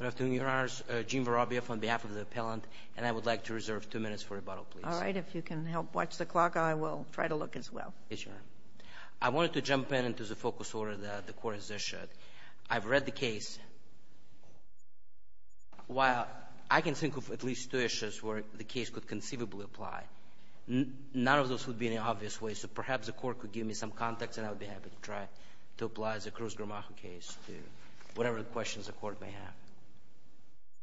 on behalf of the appellant, and I would like to reserve two minutes for rebuttal, please. All right. If you can help watch the clock, I will try to look as well. Yes, Your Honor. I wanted to jump in into the focus order that the Court has issued. I've read the case. While I can think of at least two issues where the case could conceivably apply, none of those would be in an obvious way, so perhaps the Court could give me some context and I would be happy to try to apply the Cruz-Gramajo case to whatever questions the Court may have.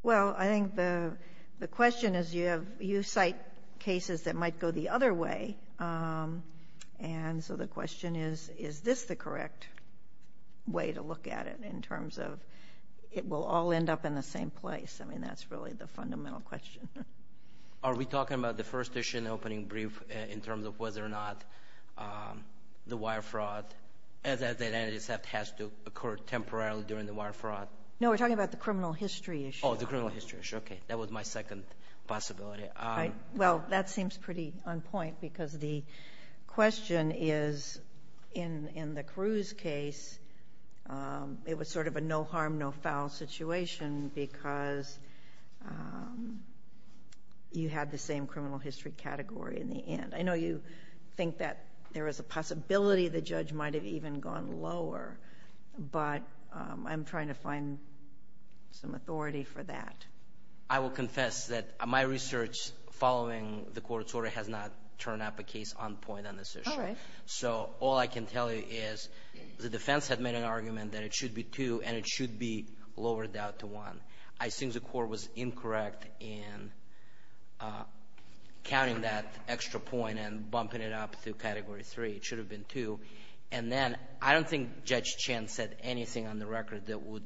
Well, I think the question is you cite cases that might go the other way, and so the question is, is this the correct way to look at it in terms of it will all end up in the same place? I mean, that's really the fundamental question. Are we talking about the first issue in the opening brief in terms of whether or not the wire fraud, as the identity theft has to occur temporarily during the wire fraud? No, we're talking about the criminal history issue. Oh, the criminal history issue. Okay. That was my second possibility. All right. Well, that seems pretty on point because the question is in the Cruz case, it was sort of a no harm, no foul situation because you had the same criminal history category in the end. I know you think that there is a possibility the judge might have even gone lower, but I'm trying to find some authority for that. I will confess that my research following the Court's order has not turned up a case on point on this issue. All right. The judge had made an argument that it should be two and it should be lowered down to one. I think the Court was incorrect in counting that extra point and bumping it up to category three. It should have been two. And then I don't think Judge Chen said anything on the record that would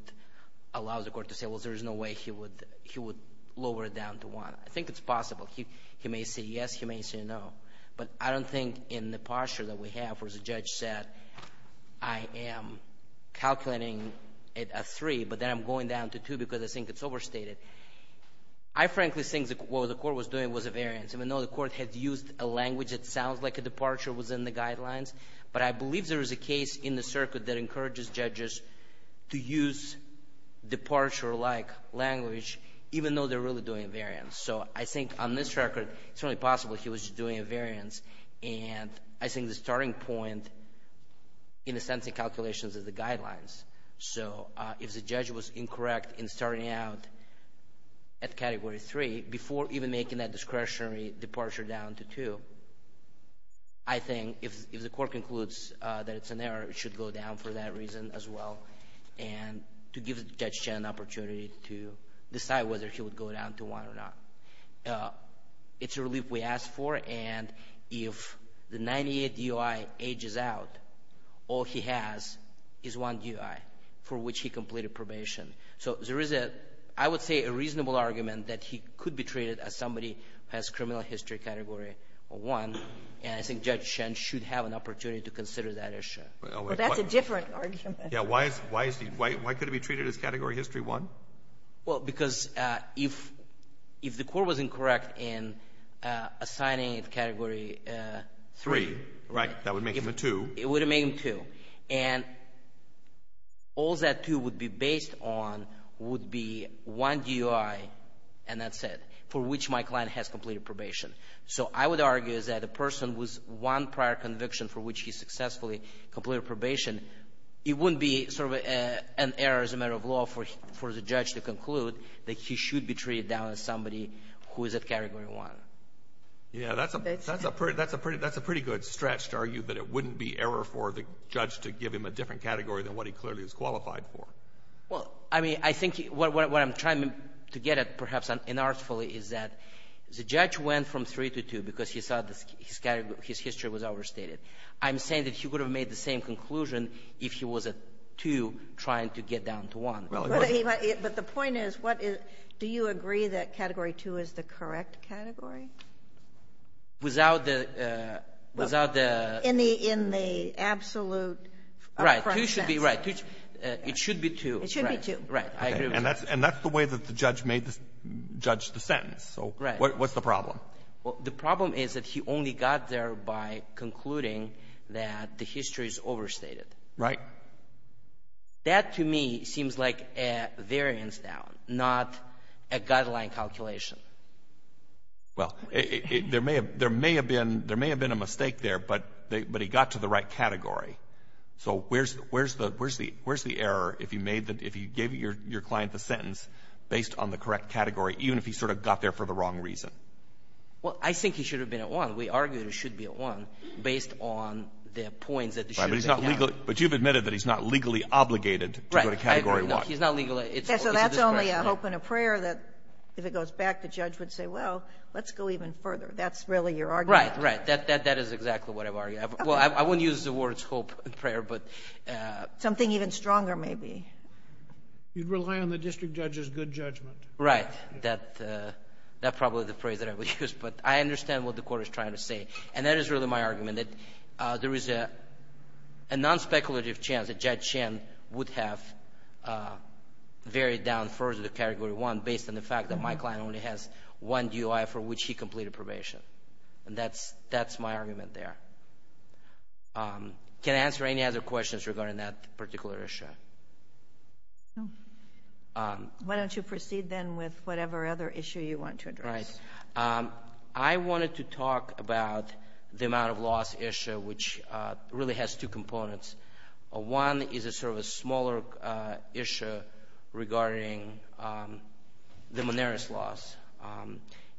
allow the Court to say, well, there is no way he would lower it down to one. I think it's possible. He may say yes, he may say no, but I don't think in the posture that we have where the judge said I am calculating it at three, but then I'm going down to two because I think it's overstated. I frankly think what the Court was doing was a variance. Even though the Court had used a language that sounds like a departure was in the guidelines, but I believe there is a case in the circuit that encourages judges to use departure-like language, even though they're really doing a variance. So I think on this record, it's only possible he was just doing a variance, and I think the starting point, in a sense, in calculations is the guidelines. So if the judge was incorrect in starting out at category three before even making that discretionary departure down to two, I think if the Court concludes that it's an error, it should go down for that reason as well and to give Judge Chen an opportunity to decide whether he would go down to one or not. It's a relief we asked for, and if the 98 DOI ages out, all he has is one DOI for which he completed probation. So there is, I would say, a reasonable argument that he could be treated as somebody who has criminal history category one, and I think Judge Chen should have an opportunity to consider that issue. Well, that's a different argument. Yeah, why could he be treated as category history one? Well, because if the Court was incorrect in assigning it category three. Right, that would make him a two. It would make him two, and all that two would be based on would be one DOI, and that's it, for which my client has completed probation. So I would argue that a person with one prior conviction for which he successfully completed probation, it wouldn't be sort of an error as a matter of law for the judge to conclude that he should be treated down as somebody who is at category one. Yeah, that's a pretty good stretch to argue that it wouldn't be error for the judge to give him a different category than what he clearly is qualified for. Well, I mean, I think what I'm trying to get at, perhaps unartfully, is that the judge went from three to two because he thought his history was overstated. I'm saying that he would have made the same conclusion if he was at two trying to get down to one. But the point is, do you agree that category two is the correct category? In the absolute correct sense. Right. Two should be right. It should be two. It should be two. Right. I agree with that. And that's the way that the judge judged the sentence. So what's the problem? The problem is that he only got there by concluding that the history is overstated. Right. That, to me, seems like a variance down, not a guideline calculation. Well, there may have been a mistake there, but he got to the right category. So where's the error if you made the — if you gave your client the sentence based on the correct category, even if he sort of got there for the wrong reason? Well, I think he should have been at one. We argue that he should be at one based on the points that he should have been at one. Right. But he's not legally — but you've admitted that he's not legally obligated to go to category one. Right. He's not legally — So that's only a hope and a prayer that, if it goes back, the judge would say, well, let's go even further. That's really your argument. Right. That is exactly what I'm arguing. Okay. Well, I wouldn't use the words hope and prayer, but — Something even stronger, maybe. You'd rely on the district judge's good judgment. Right. That's probably the phrase that I would use. But I understand what the court is trying to say. And that is really my argument, that there is a non-speculative chance that Judge Shen would have varied down further to category one based on the fact that my client only has one DUI for which he completed probation. And that's my argument there. Can I answer any other questions regarding that particular issue? No. Why don't you proceed, then, with whatever other issue you want to address? Right. I wanted to talk about the amount of loss issue, which really has two components. One is sort of a smaller issue regarding the monarist loss.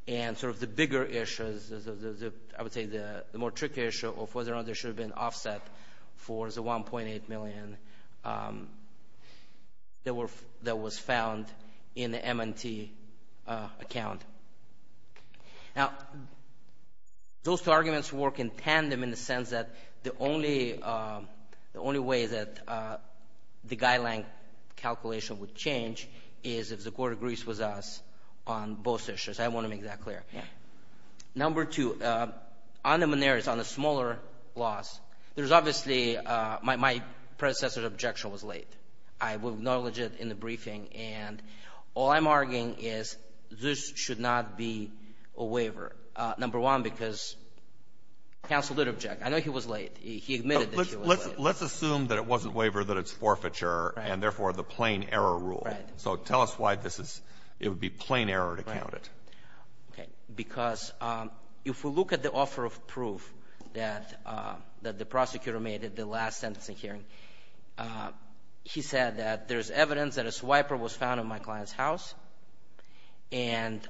And sort of the bigger issue is, I would say, the more tricky issue of whether or not there should have been offset for the $1.8 million that was found in the M&T account. Now, those two arguments work in tandem in the sense that the only way that the guideline calculation would change is if the court agrees with us on both issues. I want to make that clear. Number two, on the monarist, on the smaller loss, there's obviously my predecessor's objection was late. I will acknowledge it in the briefing. And all I'm arguing is this should not be a waiver. Number one, because counsel did object. I know he was late. He admitted that he was late. Let's assume that it wasn't waiver, that it's forfeiture, and, therefore, the plain error rule. So tell us why it would be plain error to count it. Because if we look at the offer of proof that the prosecutor made at the last sentencing hearing, he said that there's evidence that a swiper was found in my client's house, and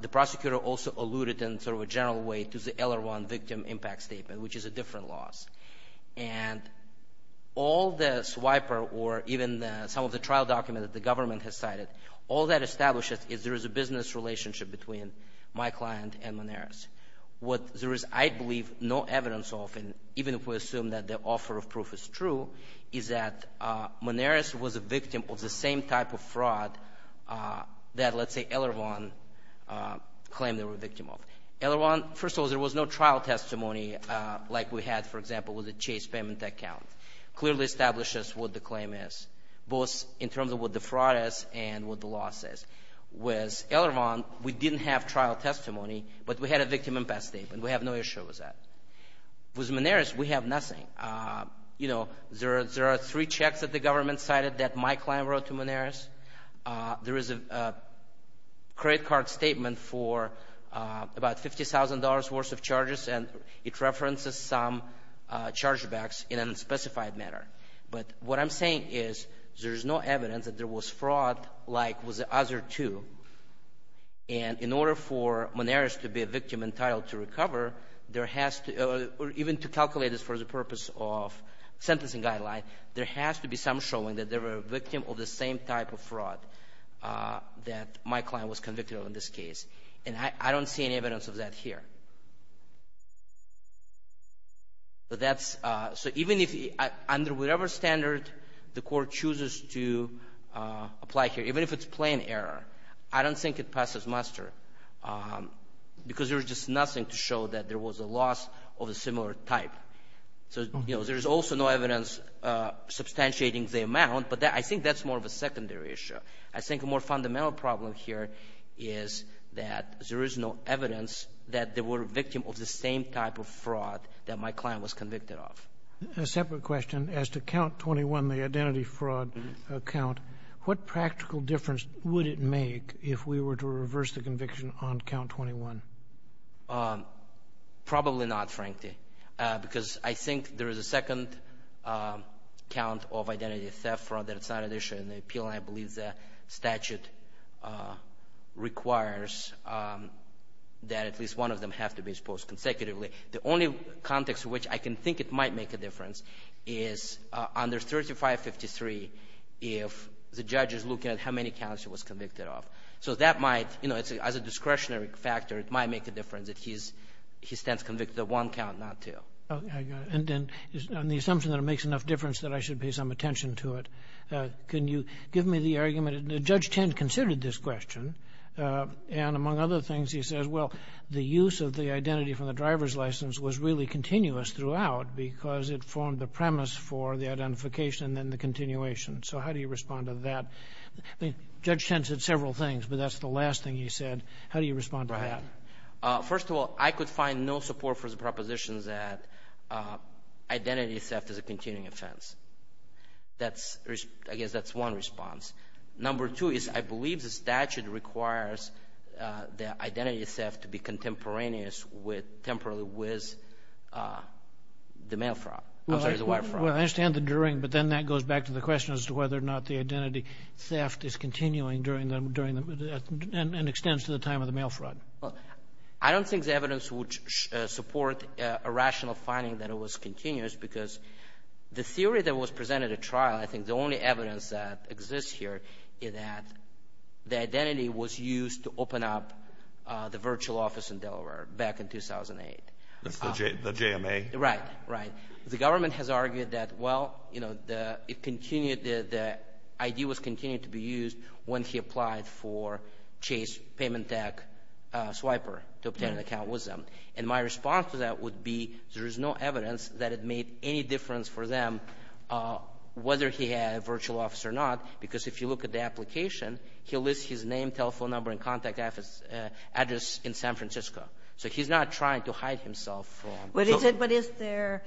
the prosecutor also alluded in sort of a general way to the LR1 victim impact statement, which is a different loss. And all the swiper or even some of the trial documents that the government has cited, all that establishes is there is a business relationship between my client and monarist. What there is, I believe, no evidence of, and even if we assume that the offer of proof is true, is that monarist was a victim of the same type of fraud that, let's say, LR1 claimed they were a victim of. LR1, first of all, there was no trial testimony like we had, for example, with the Chase payment account. Clearly establishes what the claim is, both in terms of what the fraud is and what the loss is. With LR1, we didn't have trial testimony, but we had a victim impact statement. We have no issue with that. With monarist, we have nothing. You know, there are three checks that the government cited that my client wrote to monarist. There is a credit card statement for about $50,000 worth of charges, and it references some chargebacks in an unspecified manner. But what I'm saying is there is no evidence that there was fraud like with the other two. And in order for monarist to be a victim entitled to recover, there has to be, or even to calculate this for the purpose of sentencing guideline, there has to be some showing that they were a victim of the same type of fraud that my client was convicted of in this case. And I don't see any evidence of that here. But that's so even if under whatever standard the court chooses to apply here, even if it's plain error, I don't think it passes muster because there is just nothing to show that there was a loss of a similar type. So, you know, there is also no evidence substantiating the amount, but I think that's more of a secondary issue. I think a more fundamental problem here is that there is no evidence that they were a victim of the same type of fraud that my client was convicted of. A separate question. As to count 21, the identity fraud count, what practical difference would it make if we were to reverse the conviction on count 21? Probably not, frankly, because I think there is a second count of identity theft fraud that it's not an issue in the appeal, and I believe the statute requires that at least one of them have to be exposed consecutively. The only context in which I can think it might make a difference is under 3553, if the judge is looking at how many counts he was convicted of. So that might, you know, as a discretionary factor, it might make a difference if he stands convicted of one count, not two. Okay. And the assumption that it makes enough difference that I should pay some attention to it. Can you give me the argument? Judge Tent considered this question, and among other things, he says, well, the use of the identity from the driver's license was really continuous throughout because it formed the premise for the identification and then the continuation. So how do you respond to that? Judge Tent said several things, but that's the last thing he said. How do you respond to that? First of all, I could find no support for the propositions that identity theft is a continuing offense. I guess that's one response. Number two is I believe the statute requires the identity theft to be contemporaneous with temporarily with the mail fraud. I'm sorry, the wire fraud. Well, I understand the during, but then that goes back to the question as to whether or not the identity theft is continuing and extends to the time of the mail fraud. I don't think the evidence would support a rational finding that it was continuous because the theory that was presented at trial, I think the only evidence that exists here, is that the identity was used to open up the virtual office in Delaware back in 2008. That's the JMA? Right, right. The government has argued that, well, you know, the idea was continuing to be used when he applied for Chase Payment Tech Swiper to obtain an account with them. And my response to that would be there is no evidence that it made any difference for them, whether he had a virtual office or not, because if you look at the application, he lists his name, telephone number, and contact address in San Francisco. So he's not trying to hide himself. But is there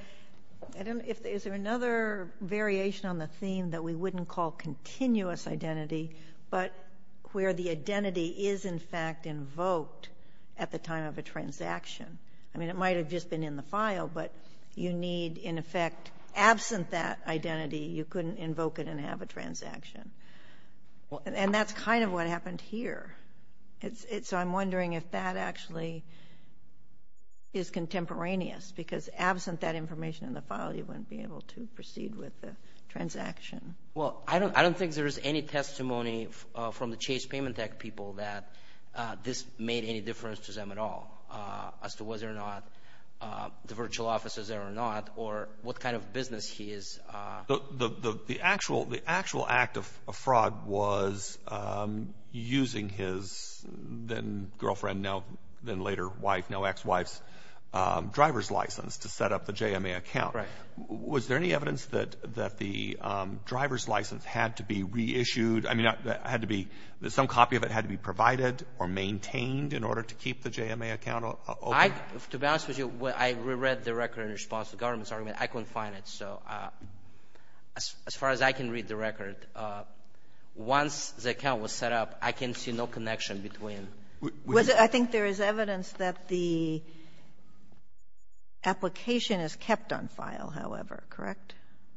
another variation on the theme that we wouldn't call continuous identity, but where the identity is, in fact, invoked at the time of a transaction? I mean, it might have just been in the file, but you need, in effect, absent that identity, you couldn't invoke it and have a transaction. And that's kind of what happened here. So I'm wondering if that actually is contemporaneous, because absent that information in the file, you wouldn't be able to proceed with the transaction. Well, I don't think there is any testimony from the Chase Payment Tech people that this made any difference to them at all as to whether or not the virtual office is there or not or what kind of business he is. The actual act of fraud was using his then-girlfriend, now then-later wife, now ex-wife's driver's license to set up the JMA account. Correct. Was there any evidence that the driver's license had to be reissued? I mean, had to be — that some copy of it had to be provided or maintained in order to keep the JMA account open? To be honest with you, I reread the record in response to the government's argument. I couldn't find it. So as far as I can read the record, once the account was set up, I can see no connection between — I think there is evidence that the application is kept on file, however, correct?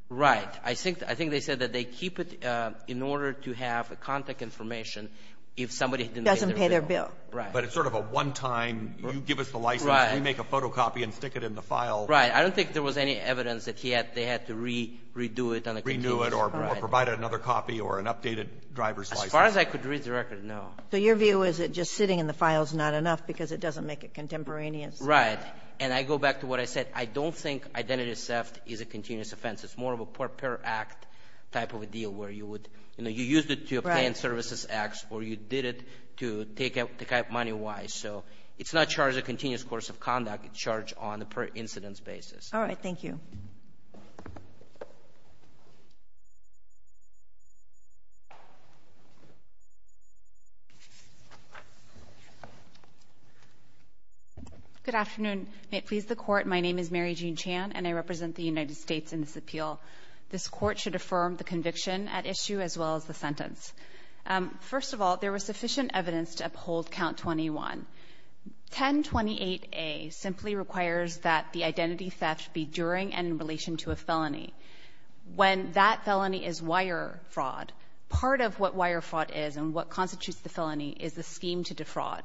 Right. I think they said that they keep it in order to have contact information if somebody didn't pay their bill. Doesn't pay their bill. Right. But it's sort of a one-time, you give us the license, we make a photocopy and stick it in the file. Right. I don't think there was any evidence that they had to redo it on a continuous basis. Renew it or provide another copy or an updated driver's license. As far as I could read the record, no. So your view is that just sitting in the file is not enough because it doesn't make it contemporaneous? Right. And I go back to what I said. I don't think identity theft is a continuous offense. It's more of a per-act type of a deal where you would — you know, you used it to pay in services X or you did it to take out money Y. So it's not charged a continuous course of conduct. It's charged on a per-incidence basis. All right. Thank you. Thank you. Good afternoon. May it please the Court, my name is Mary Jean Chan and I represent the United States in this appeal. This Court should affirm the conviction at issue as well as the sentence. First of all, there was sufficient evidence to uphold Count 21. 1028A simply requires that the identity theft be during and in relation to a felony. When that felony is wire fraud, part of what wire fraud is and what constitutes the felony is the scheme to defraud.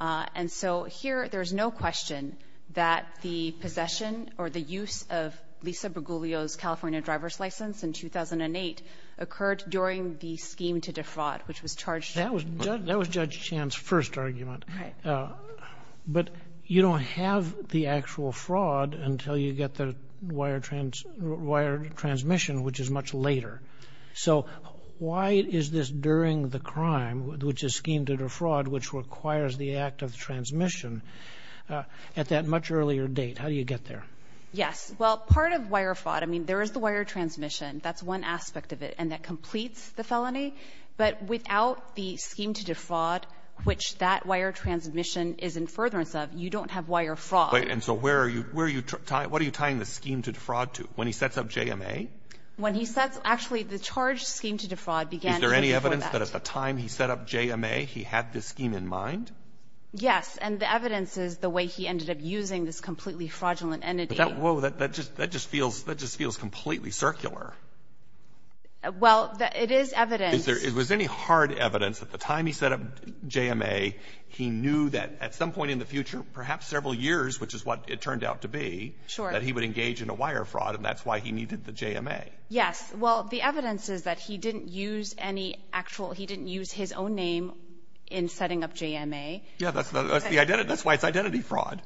And so here there's no question that the possession or the use of Lisa Bergoglio's California driver's license in 2008 occurred during the scheme to defraud, which was charged — That was Judge Chan's first argument. Right. But you don't have the actual fraud until you get the wire transmission, which is much later. So why is this during the crime, which is scheme to defraud, which requires the act of transmission, at that much earlier date? How do you get there? Yes. Well, part of wire fraud — I mean, there is the wire transmission. That's one aspect of it. And that completes the felony. But without the scheme to defraud, which that wire transmission is in furtherance of, you don't have wire fraud. Right. And so where are you — where are you tying — what are you tying the scheme to defraud to, when he sets up JMA? When he sets — actually, the charged scheme to defraud began even before that. Is there any evidence that at the time he set up JMA, he had this scheme in mind? Yes. And the evidence is the way he ended up using this completely fraudulent entity. But that — whoa, that just feels — that just feels completely circular. Well, it is evident. Is there — is there any hard evidence that at the time he set up JMA, he knew that at some point in the future, perhaps several years, which is what it turned out to be, that he would engage in a wire fraud, and that's why he needed the JMA? Yes. Well, the evidence is that he didn't use any actual — he didn't use his own name in setting up JMA. Yes. That's the — that's why it's identity fraud.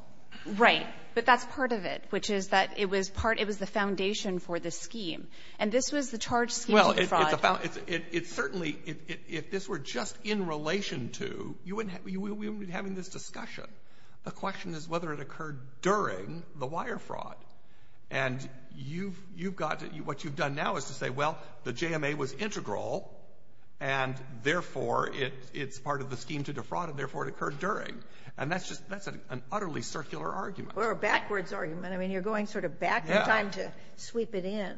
Right. But that's part of it, which is that it was part — it was the foundation for this scheme. And this was the charged scheme to defraud. It's a — it's certainly — if this were just in relation to — you wouldn't — we wouldn't be having this discussion. The question is whether it occurred during the wire fraud. And you've — you've got to — what you've done now is to say, well, the JMA was integral, and therefore it's part of the scheme to defraud, and therefore it occurred during. And that's just — that's an utterly circular argument. Or a backwards argument. I mean, you're going sort of back in time to sweep it in.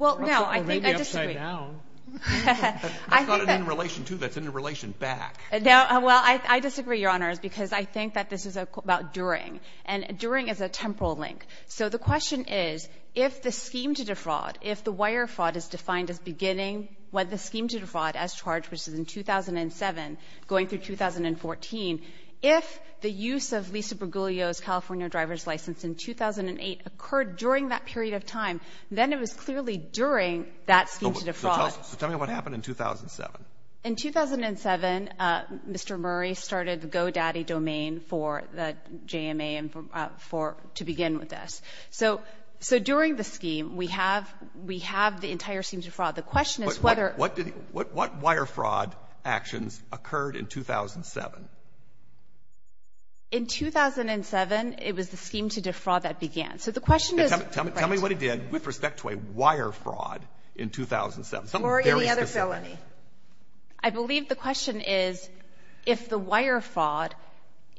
Well, no. I think I disagree. Or maybe upside down. I think that — That's not an in-relation, too. That's an in-relation back. No. Well, I disagree, Your Honors, because I think that this is about during. And during is a temporal link. So the question is, if the scheme to defraud, if the wire fraud is defined as beginning when the scheme to defraud as charged, which is in 2007, going through 2014, if the use of Lisa Bergoglio's California driver's license in 2008 occurred during that period of time, then it was clearly during that scheme to defraud. So tell me what happened in 2007. In 2007, Mr. Murray started the GoDaddy domain for the JMA and for — to begin with this. So during the scheme, we have — we have the entire scheme to defraud. The question is whether — But what did — what wire fraud actions occurred in 2007? In 2007, it was the scheme to defraud that began. So the question is — Tell me what it did with respect to a wire fraud in 2007. Something very specific. Or any other felony. I believe the question is if the wire fraud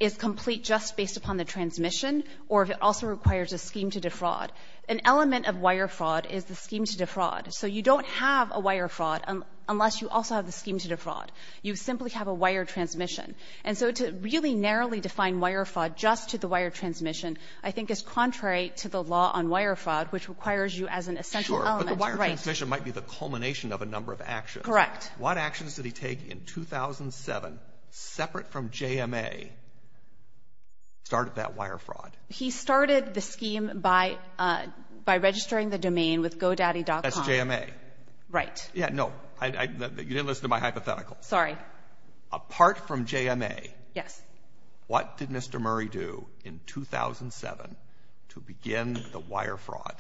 is complete just based upon the transmission or if it also requires a scheme to defraud. An element of wire fraud is the scheme to defraud. So you don't have a wire fraud unless you also have the scheme to defraud. You simply have a wire transmission. And so to really narrowly define wire fraud just to the wire transmission, I think is contrary to the law on wire fraud, which requires you as an essential element. Sure. But the wire transmission might be the culmination of a number of actions. Correct. What actions did he take in 2007, separate from JMA, started that wire fraud? He started the scheme by registering the domain with GoDaddy.com. That's JMA. Right. Yeah, no. You didn't listen to my hypothetical. Sorry. Apart from JMA — Yes. What did Mr. Murray do in 2007 to begin the wire fraud?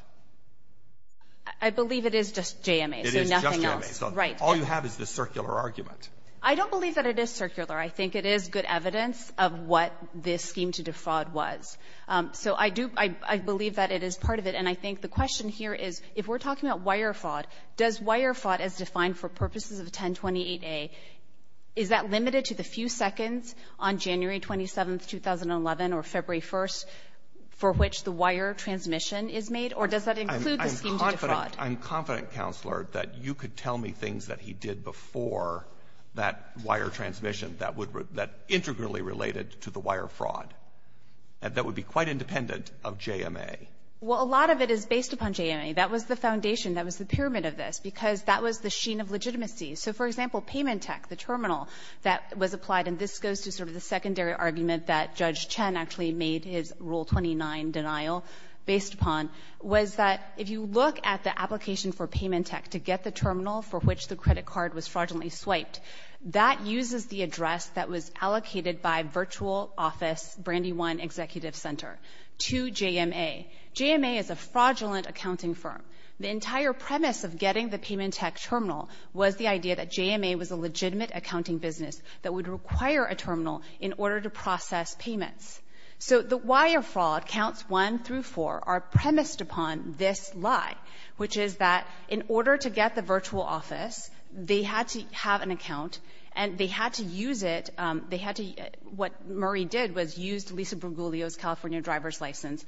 I believe it is just JMA, so nothing else. It is just JMA. Right. All you have is this circular argument. I don't believe that it is circular. I think it is good evidence of what this scheme to defraud was. So I do — I believe that it is part of it. And I think the question here is if we're talking about wire fraud, does wire fraud as defined for purposes of 1028A, is that limited to the few seconds on January 27th, 2011, or February 1st, for which the wire transmission is made? Or does that include the scheme to defraud? I'm confident, Counselor, that you could tell me things that he did before that wire transmission that integrally related to the wire fraud that would be quite independent of JMA. Well, a lot of it is based upon JMA. That was the foundation. That was the pyramid of this because that was the sheen of legitimacy. So, for example, Paymentech, the terminal that was applied, and this goes to sort of the secondary argument that Judge Chen actually made his Rule 29 denial based upon, was that if you look at the application for Paymentech to get the terminal for which the credit card was fraudulently swiped, that uses the address that was allocated by virtual office Brandy One Executive Center to JMA. JMA is a fraudulent accounting firm. The entire premise of getting the Paymentech terminal was the idea that JMA was a legitimate accounting business that would require a terminal in order to process payments. So the wire fraud, counts one through four, are premised upon this lie, which is that in order to get the virtual office, they had to have an account, and they had to use it. They had to — what Murray did was used Lisa Bergoglio's California driver's license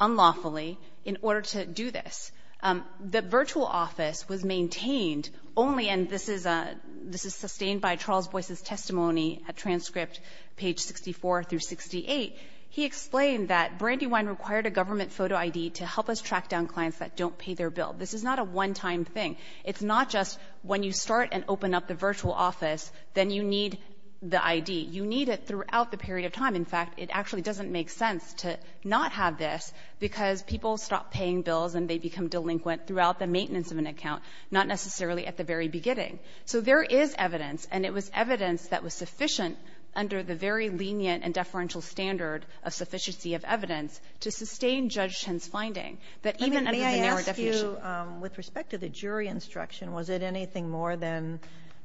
unlawfully in order to do this. The virtual office was maintained only — and this is a — this is sustained by Charles Boyce's testimony at transcript page 64 through 68. He explained that Brandywine required a government photo ID to help us track down clients that don't pay their bill. This is not a one-time thing. It's not just when you start and open up the virtual office, then you need the ID. You need it throughout the period of time. In fact, it actually doesn't make sense to not have this because people stop paying bills and they become delinquent throughout the maintenance of an account, not necessarily at the very beginning. So there is evidence, and it was evidence that was sufficient under the very lenient and deferential standard of sufficiency of evidence to sustain Judge Chen's finding that even under the narrow definition — Sotomayor, may I ask you, with respect to the jury instruction, was it anything more than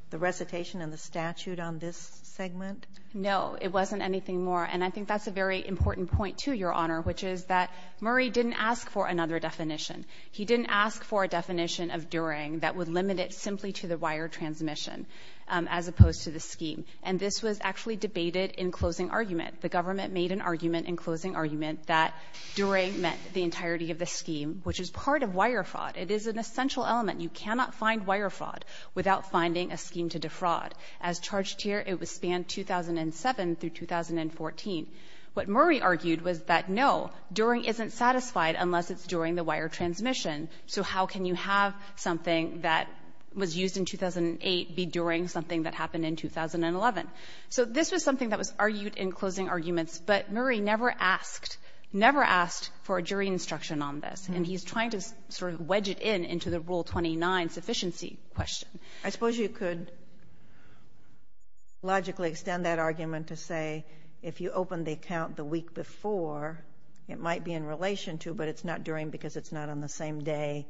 the recitation and the statute on this segment? No. It wasn't anything more. And I think that's a very important point, too, Your Honor, which is that Murray didn't ask for another definition. He didn't ask for a definition of during that would limit it simply to the wire transmission as opposed to the scheme. And this was actually debated in closing argument. The government made an argument in closing argument that during meant the entirety of the scheme, which is part of wire fraud. It is an essential element. You cannot find wire fraud without finding a scheme to defraud. As charged here, it was spanned 2007 through 2014. What Murray argued was that, no, during isn't satisfied unless it's during the wire transmission, so how can you have something that was used in 2008 be during something that happened in 2011? So this was something that was argued in closing arguments, but Murray never asked, never asked for a jury instruction on this. And he's trying to sort of wedge it in into the Rule 29 sufficiency question. I suppose you could logically extend that argument to say if you open the account the week before, it might be in relation to, but it's not during because it's not on the same day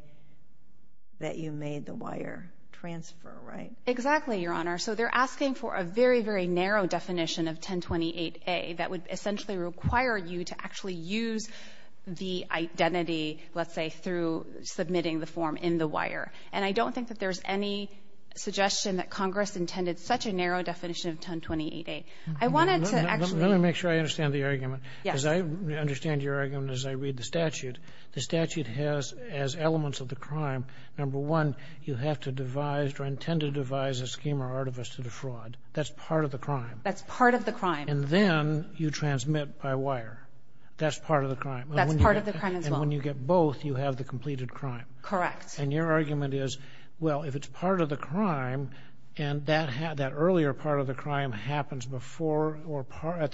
that you made the wire transfer, right? Exactly, Your Honor. So they're asking for a very, very narrow definition of 1028A that would essentially require you to actually use the identity, let's say, through submitting the form in the wire. And I don't think that there's any suggestion that Congress intended such a narrow definition of 1028A. I wanted to actually ---- Let me make sure I understand the argument. Yes. As I understand your argument as I read the statute, the statute has as elements of the crime, number one, you have to devise or intend to devise a scheme or artifice to defraud. That's part of the crime. That's part of the crime. And then you transmit by wire. That's part of the crime. That's part of the crime as well. And when you get both, you have the completed crime. Correct. Yes. And your argument is, well, if it's part of the crime and that earlier part of the crime happens before or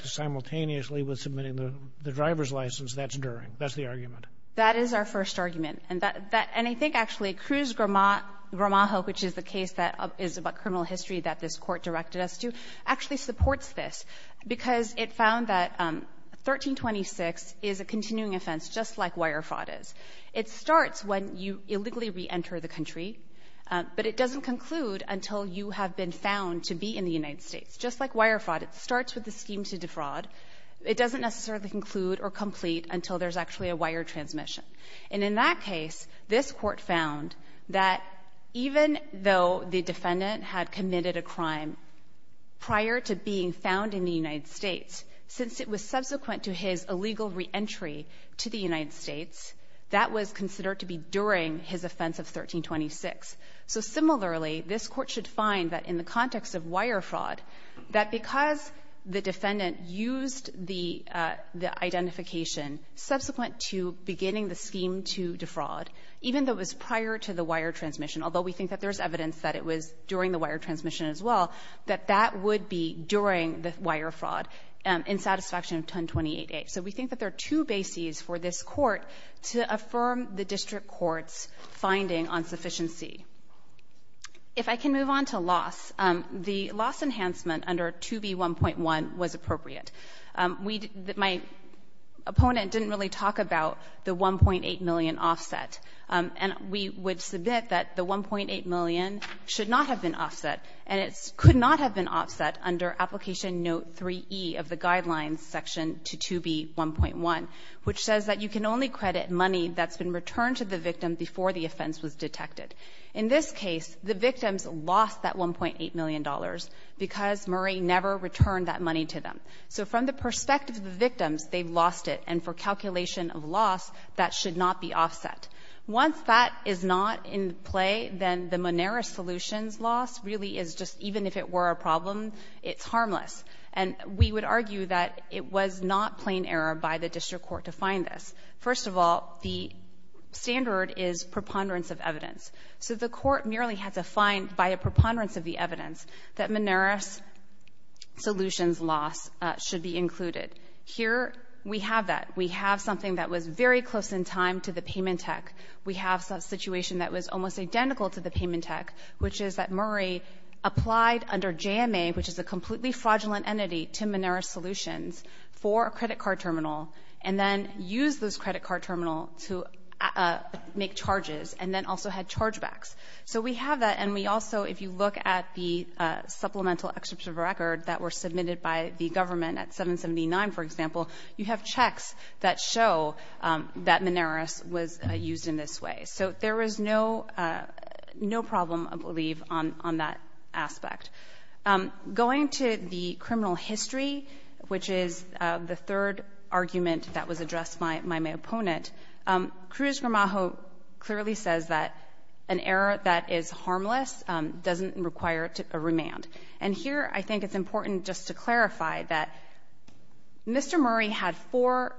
simultaneously with submitting the driver's license, that's during. That's the argument. That is our first argument. And I think actually Cruz-Gramajo, which is the case that is about criminal history that this Court directed us to, actually supports this because it found that 1326 is a continuing offense just like wire fraud is. It starts when you illegally reenter the country, but it doesn't conclude until you have been found to be in the United States. Just like wire fraud, it starts with the scheme to defraud. It doesn't necessarily conclude or complete until there's actually a wire transmission. And in that case, this Court found that even though the defendant had committed a crime prior to being found in the United States, since it was subsequent to his crime, that was considered to be during his offense of 1326. So similarly, this Court should find that in the context of wire fraud, that because the defendant used the identification subsequent to beginning the scheme to defraud, even though it was prior to the wire transmission, although we think that there's evidence that it was during the wire transmission as well, that that would be during the wire fraud in satisfaction of 1028A. So we think that there are two bases for this Court to affirm the district court's finding on sufficiency. If I can move on to loss, the loss enhancement under 2B1.1 was appropriate. We didn't – my opponent didn't really talk about the 1.8 million offset. And we would submit that the 1.8 million should not have been offset, and it could not have been offset under Application Note 3E of the Guidelines section to 2B1.1, which says that you can only credit money that's been returned to the victim before the offense was detected. In this case, the victims lost that $1.8 million because Murray never returned that money to them. So from the perspective of the victims, they've lost it, and for calculation of loss, that should not be offset. Once that is not in play, then the Moneris solutions loss really is just even if it were a problem, it's harmless. And we would argue that it was not plain error by the district court to find this. First of all, the standard is preponderance of evidence. So the court merely had to find by a preponderance of the evidence that Moneris solutions loss should be included. Here we have that. We have something that was very close in time to the payment tech. We have a situation that was almost identical to the payment tech, which is that Murray applied under JMA, which is a completely fraudulent entity, to Moneris solutions for a credit card terminal, and then used this credit card terminal to make charges, and then also had chargebacks. So we have that, and we also, if you look at the supplemental excerpts of record that were submitted by the government at 779, for example, you have checks that show that Moneris was used in this way. So there is no problem, I believe, on that aspect. Going to the criminal history, which is the third argument that was addressed by my opponent, Cruz-Gramajo clearly says that an error that is harmless doesn't require a remand. And here I think it's important just to clarify that Mr. Murray had four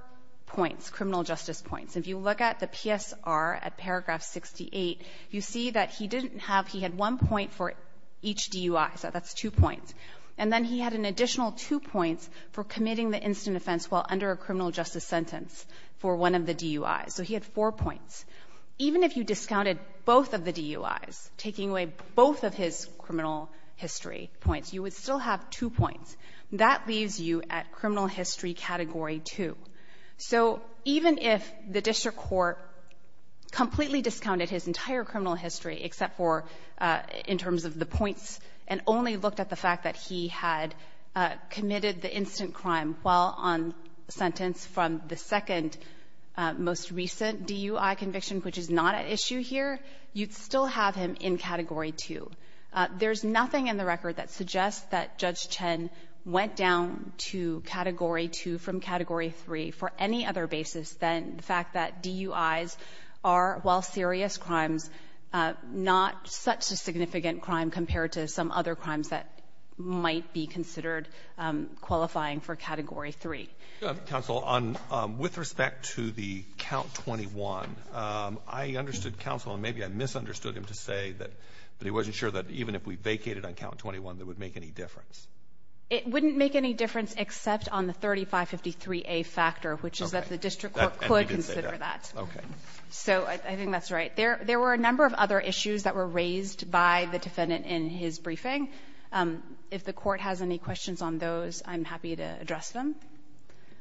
points, criminal justice points. If you look at the PSR at paragraph 68, you see that he didn't have he had one point for each DUI. So that's two points. And then he had an additional two points for committing the instant offense while under a criminal justice sentence for one of the DUIs. So he had four points. Even if you discounted both of the DUIs, taking away both of his criminal history points, you would still have two points. That leaves you at criminal history category 2. So even if the district court completely discounted his entire criminal history except for in terms of the points and only looked at the fact that he had committed the instant crime while on sentence from the second most recent DUI conviction, which is not at issue here, you'd still have him in category 2. There's nothing in the record that suggests that Judge Chen went down to category 2 from category 3 for any other basis than the fact that DUIs are, while serious qualifying for category 3. Counsel, with respect to the count 21, I understood counsel and maybe I misunderstood him to say that he wasn't sure that even if we vacated on count 21 that it would make any difference. It wouldn't make any difference except on the 3553A factor, which is that the district court could consider that. Okay. So I think that's right. There were a number of other issues that were raised by the defendant in his briefing. If the Court has any questions on those, I'm happy to address them.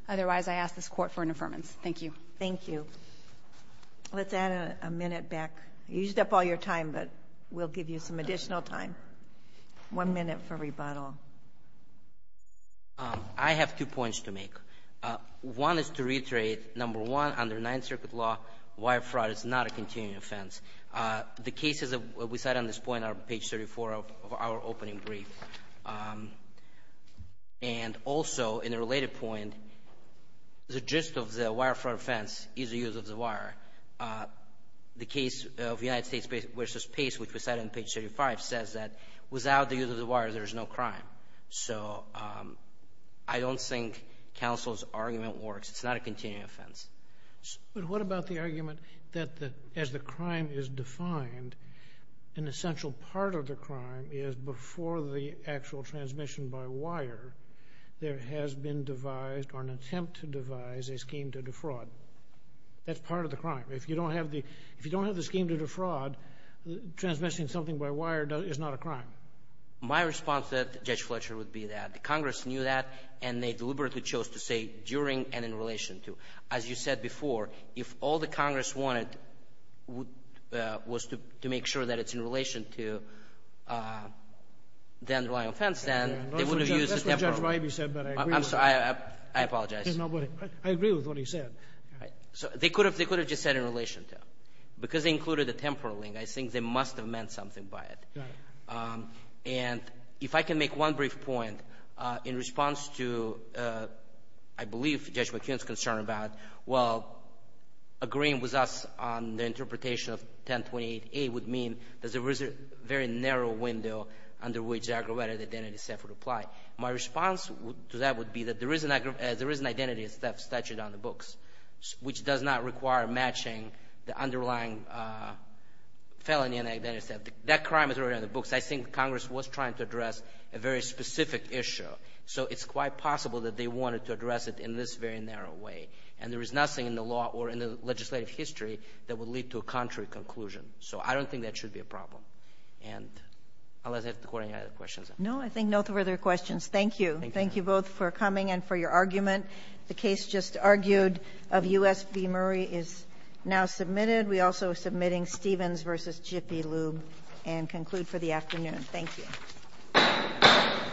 Otherwise, I ask this Court for an affirmance. Thank you. Thank you. Let's add a minute back. You used up all your time, but we'll give you some additional time. One minute for rebuttal. I have two points to make. One is to reiterate, number one, under Ninth Circuit law, wire fraud is not a continuing offense. The cases that we cite on this point are on page 34 of our opening brief. And also, in a related point, the gist of the wire fraud offense is the use of the wire. The case of United States v. Pace, which we cite on page 35, says that without the use of the wire, there is no crime. So I don't think counsel's argument works. It's not a continuing offense. But what about the argument that as the crime is defined, an essential part of the crime is before the actual transmission by wire, there has been devised or an attempt to devise a scheme to defraud? That's part of the crime. If you don't have the scheme to defraud, transmitting something by wire is not a crime. My response to Judge Fletcher would be that Congress knew that, and they deliberately chose to say during and in relation to. As you said before, if all that Congress wanted was to make sure that it's in relation to the underlying offense, then they would have used the temporal link. That's what Judge Ribey said, but I agree with him. I'm sorry. I apologize. I agree with what he said. All right. They could have just said in relation to. Because they included the temporal link, I think they must have meant something by it. Got it. And if I can make one brief point, in response to, I believe, Judge McKeon's concern about, well, agreeing with us on the interpretation of 1028A would mean that there is a very narrow window under which aggravated identity theft would apply. My response to that would be that there is an identity theft statute on the books, which does not require matching the underlying felony and identity theft. That crime is already on the books. I think Congress was trying to address a very specific issue. So it's quite possible that they wanted to address it in this very narrow way. And there is nothing in the law or in the legislative history that would lead to a contrary conclusion. So I don't think that should be a problem. Unless I have to quote any other questions. No. I think no further questions. Thank you. Thank you both for coming and for your argument. The case just argued of U.S. v. Murray is now submitted. We also are submitting Stevens v. Jiffy Lube and conclude for the afternoon. Thank you. Thank you.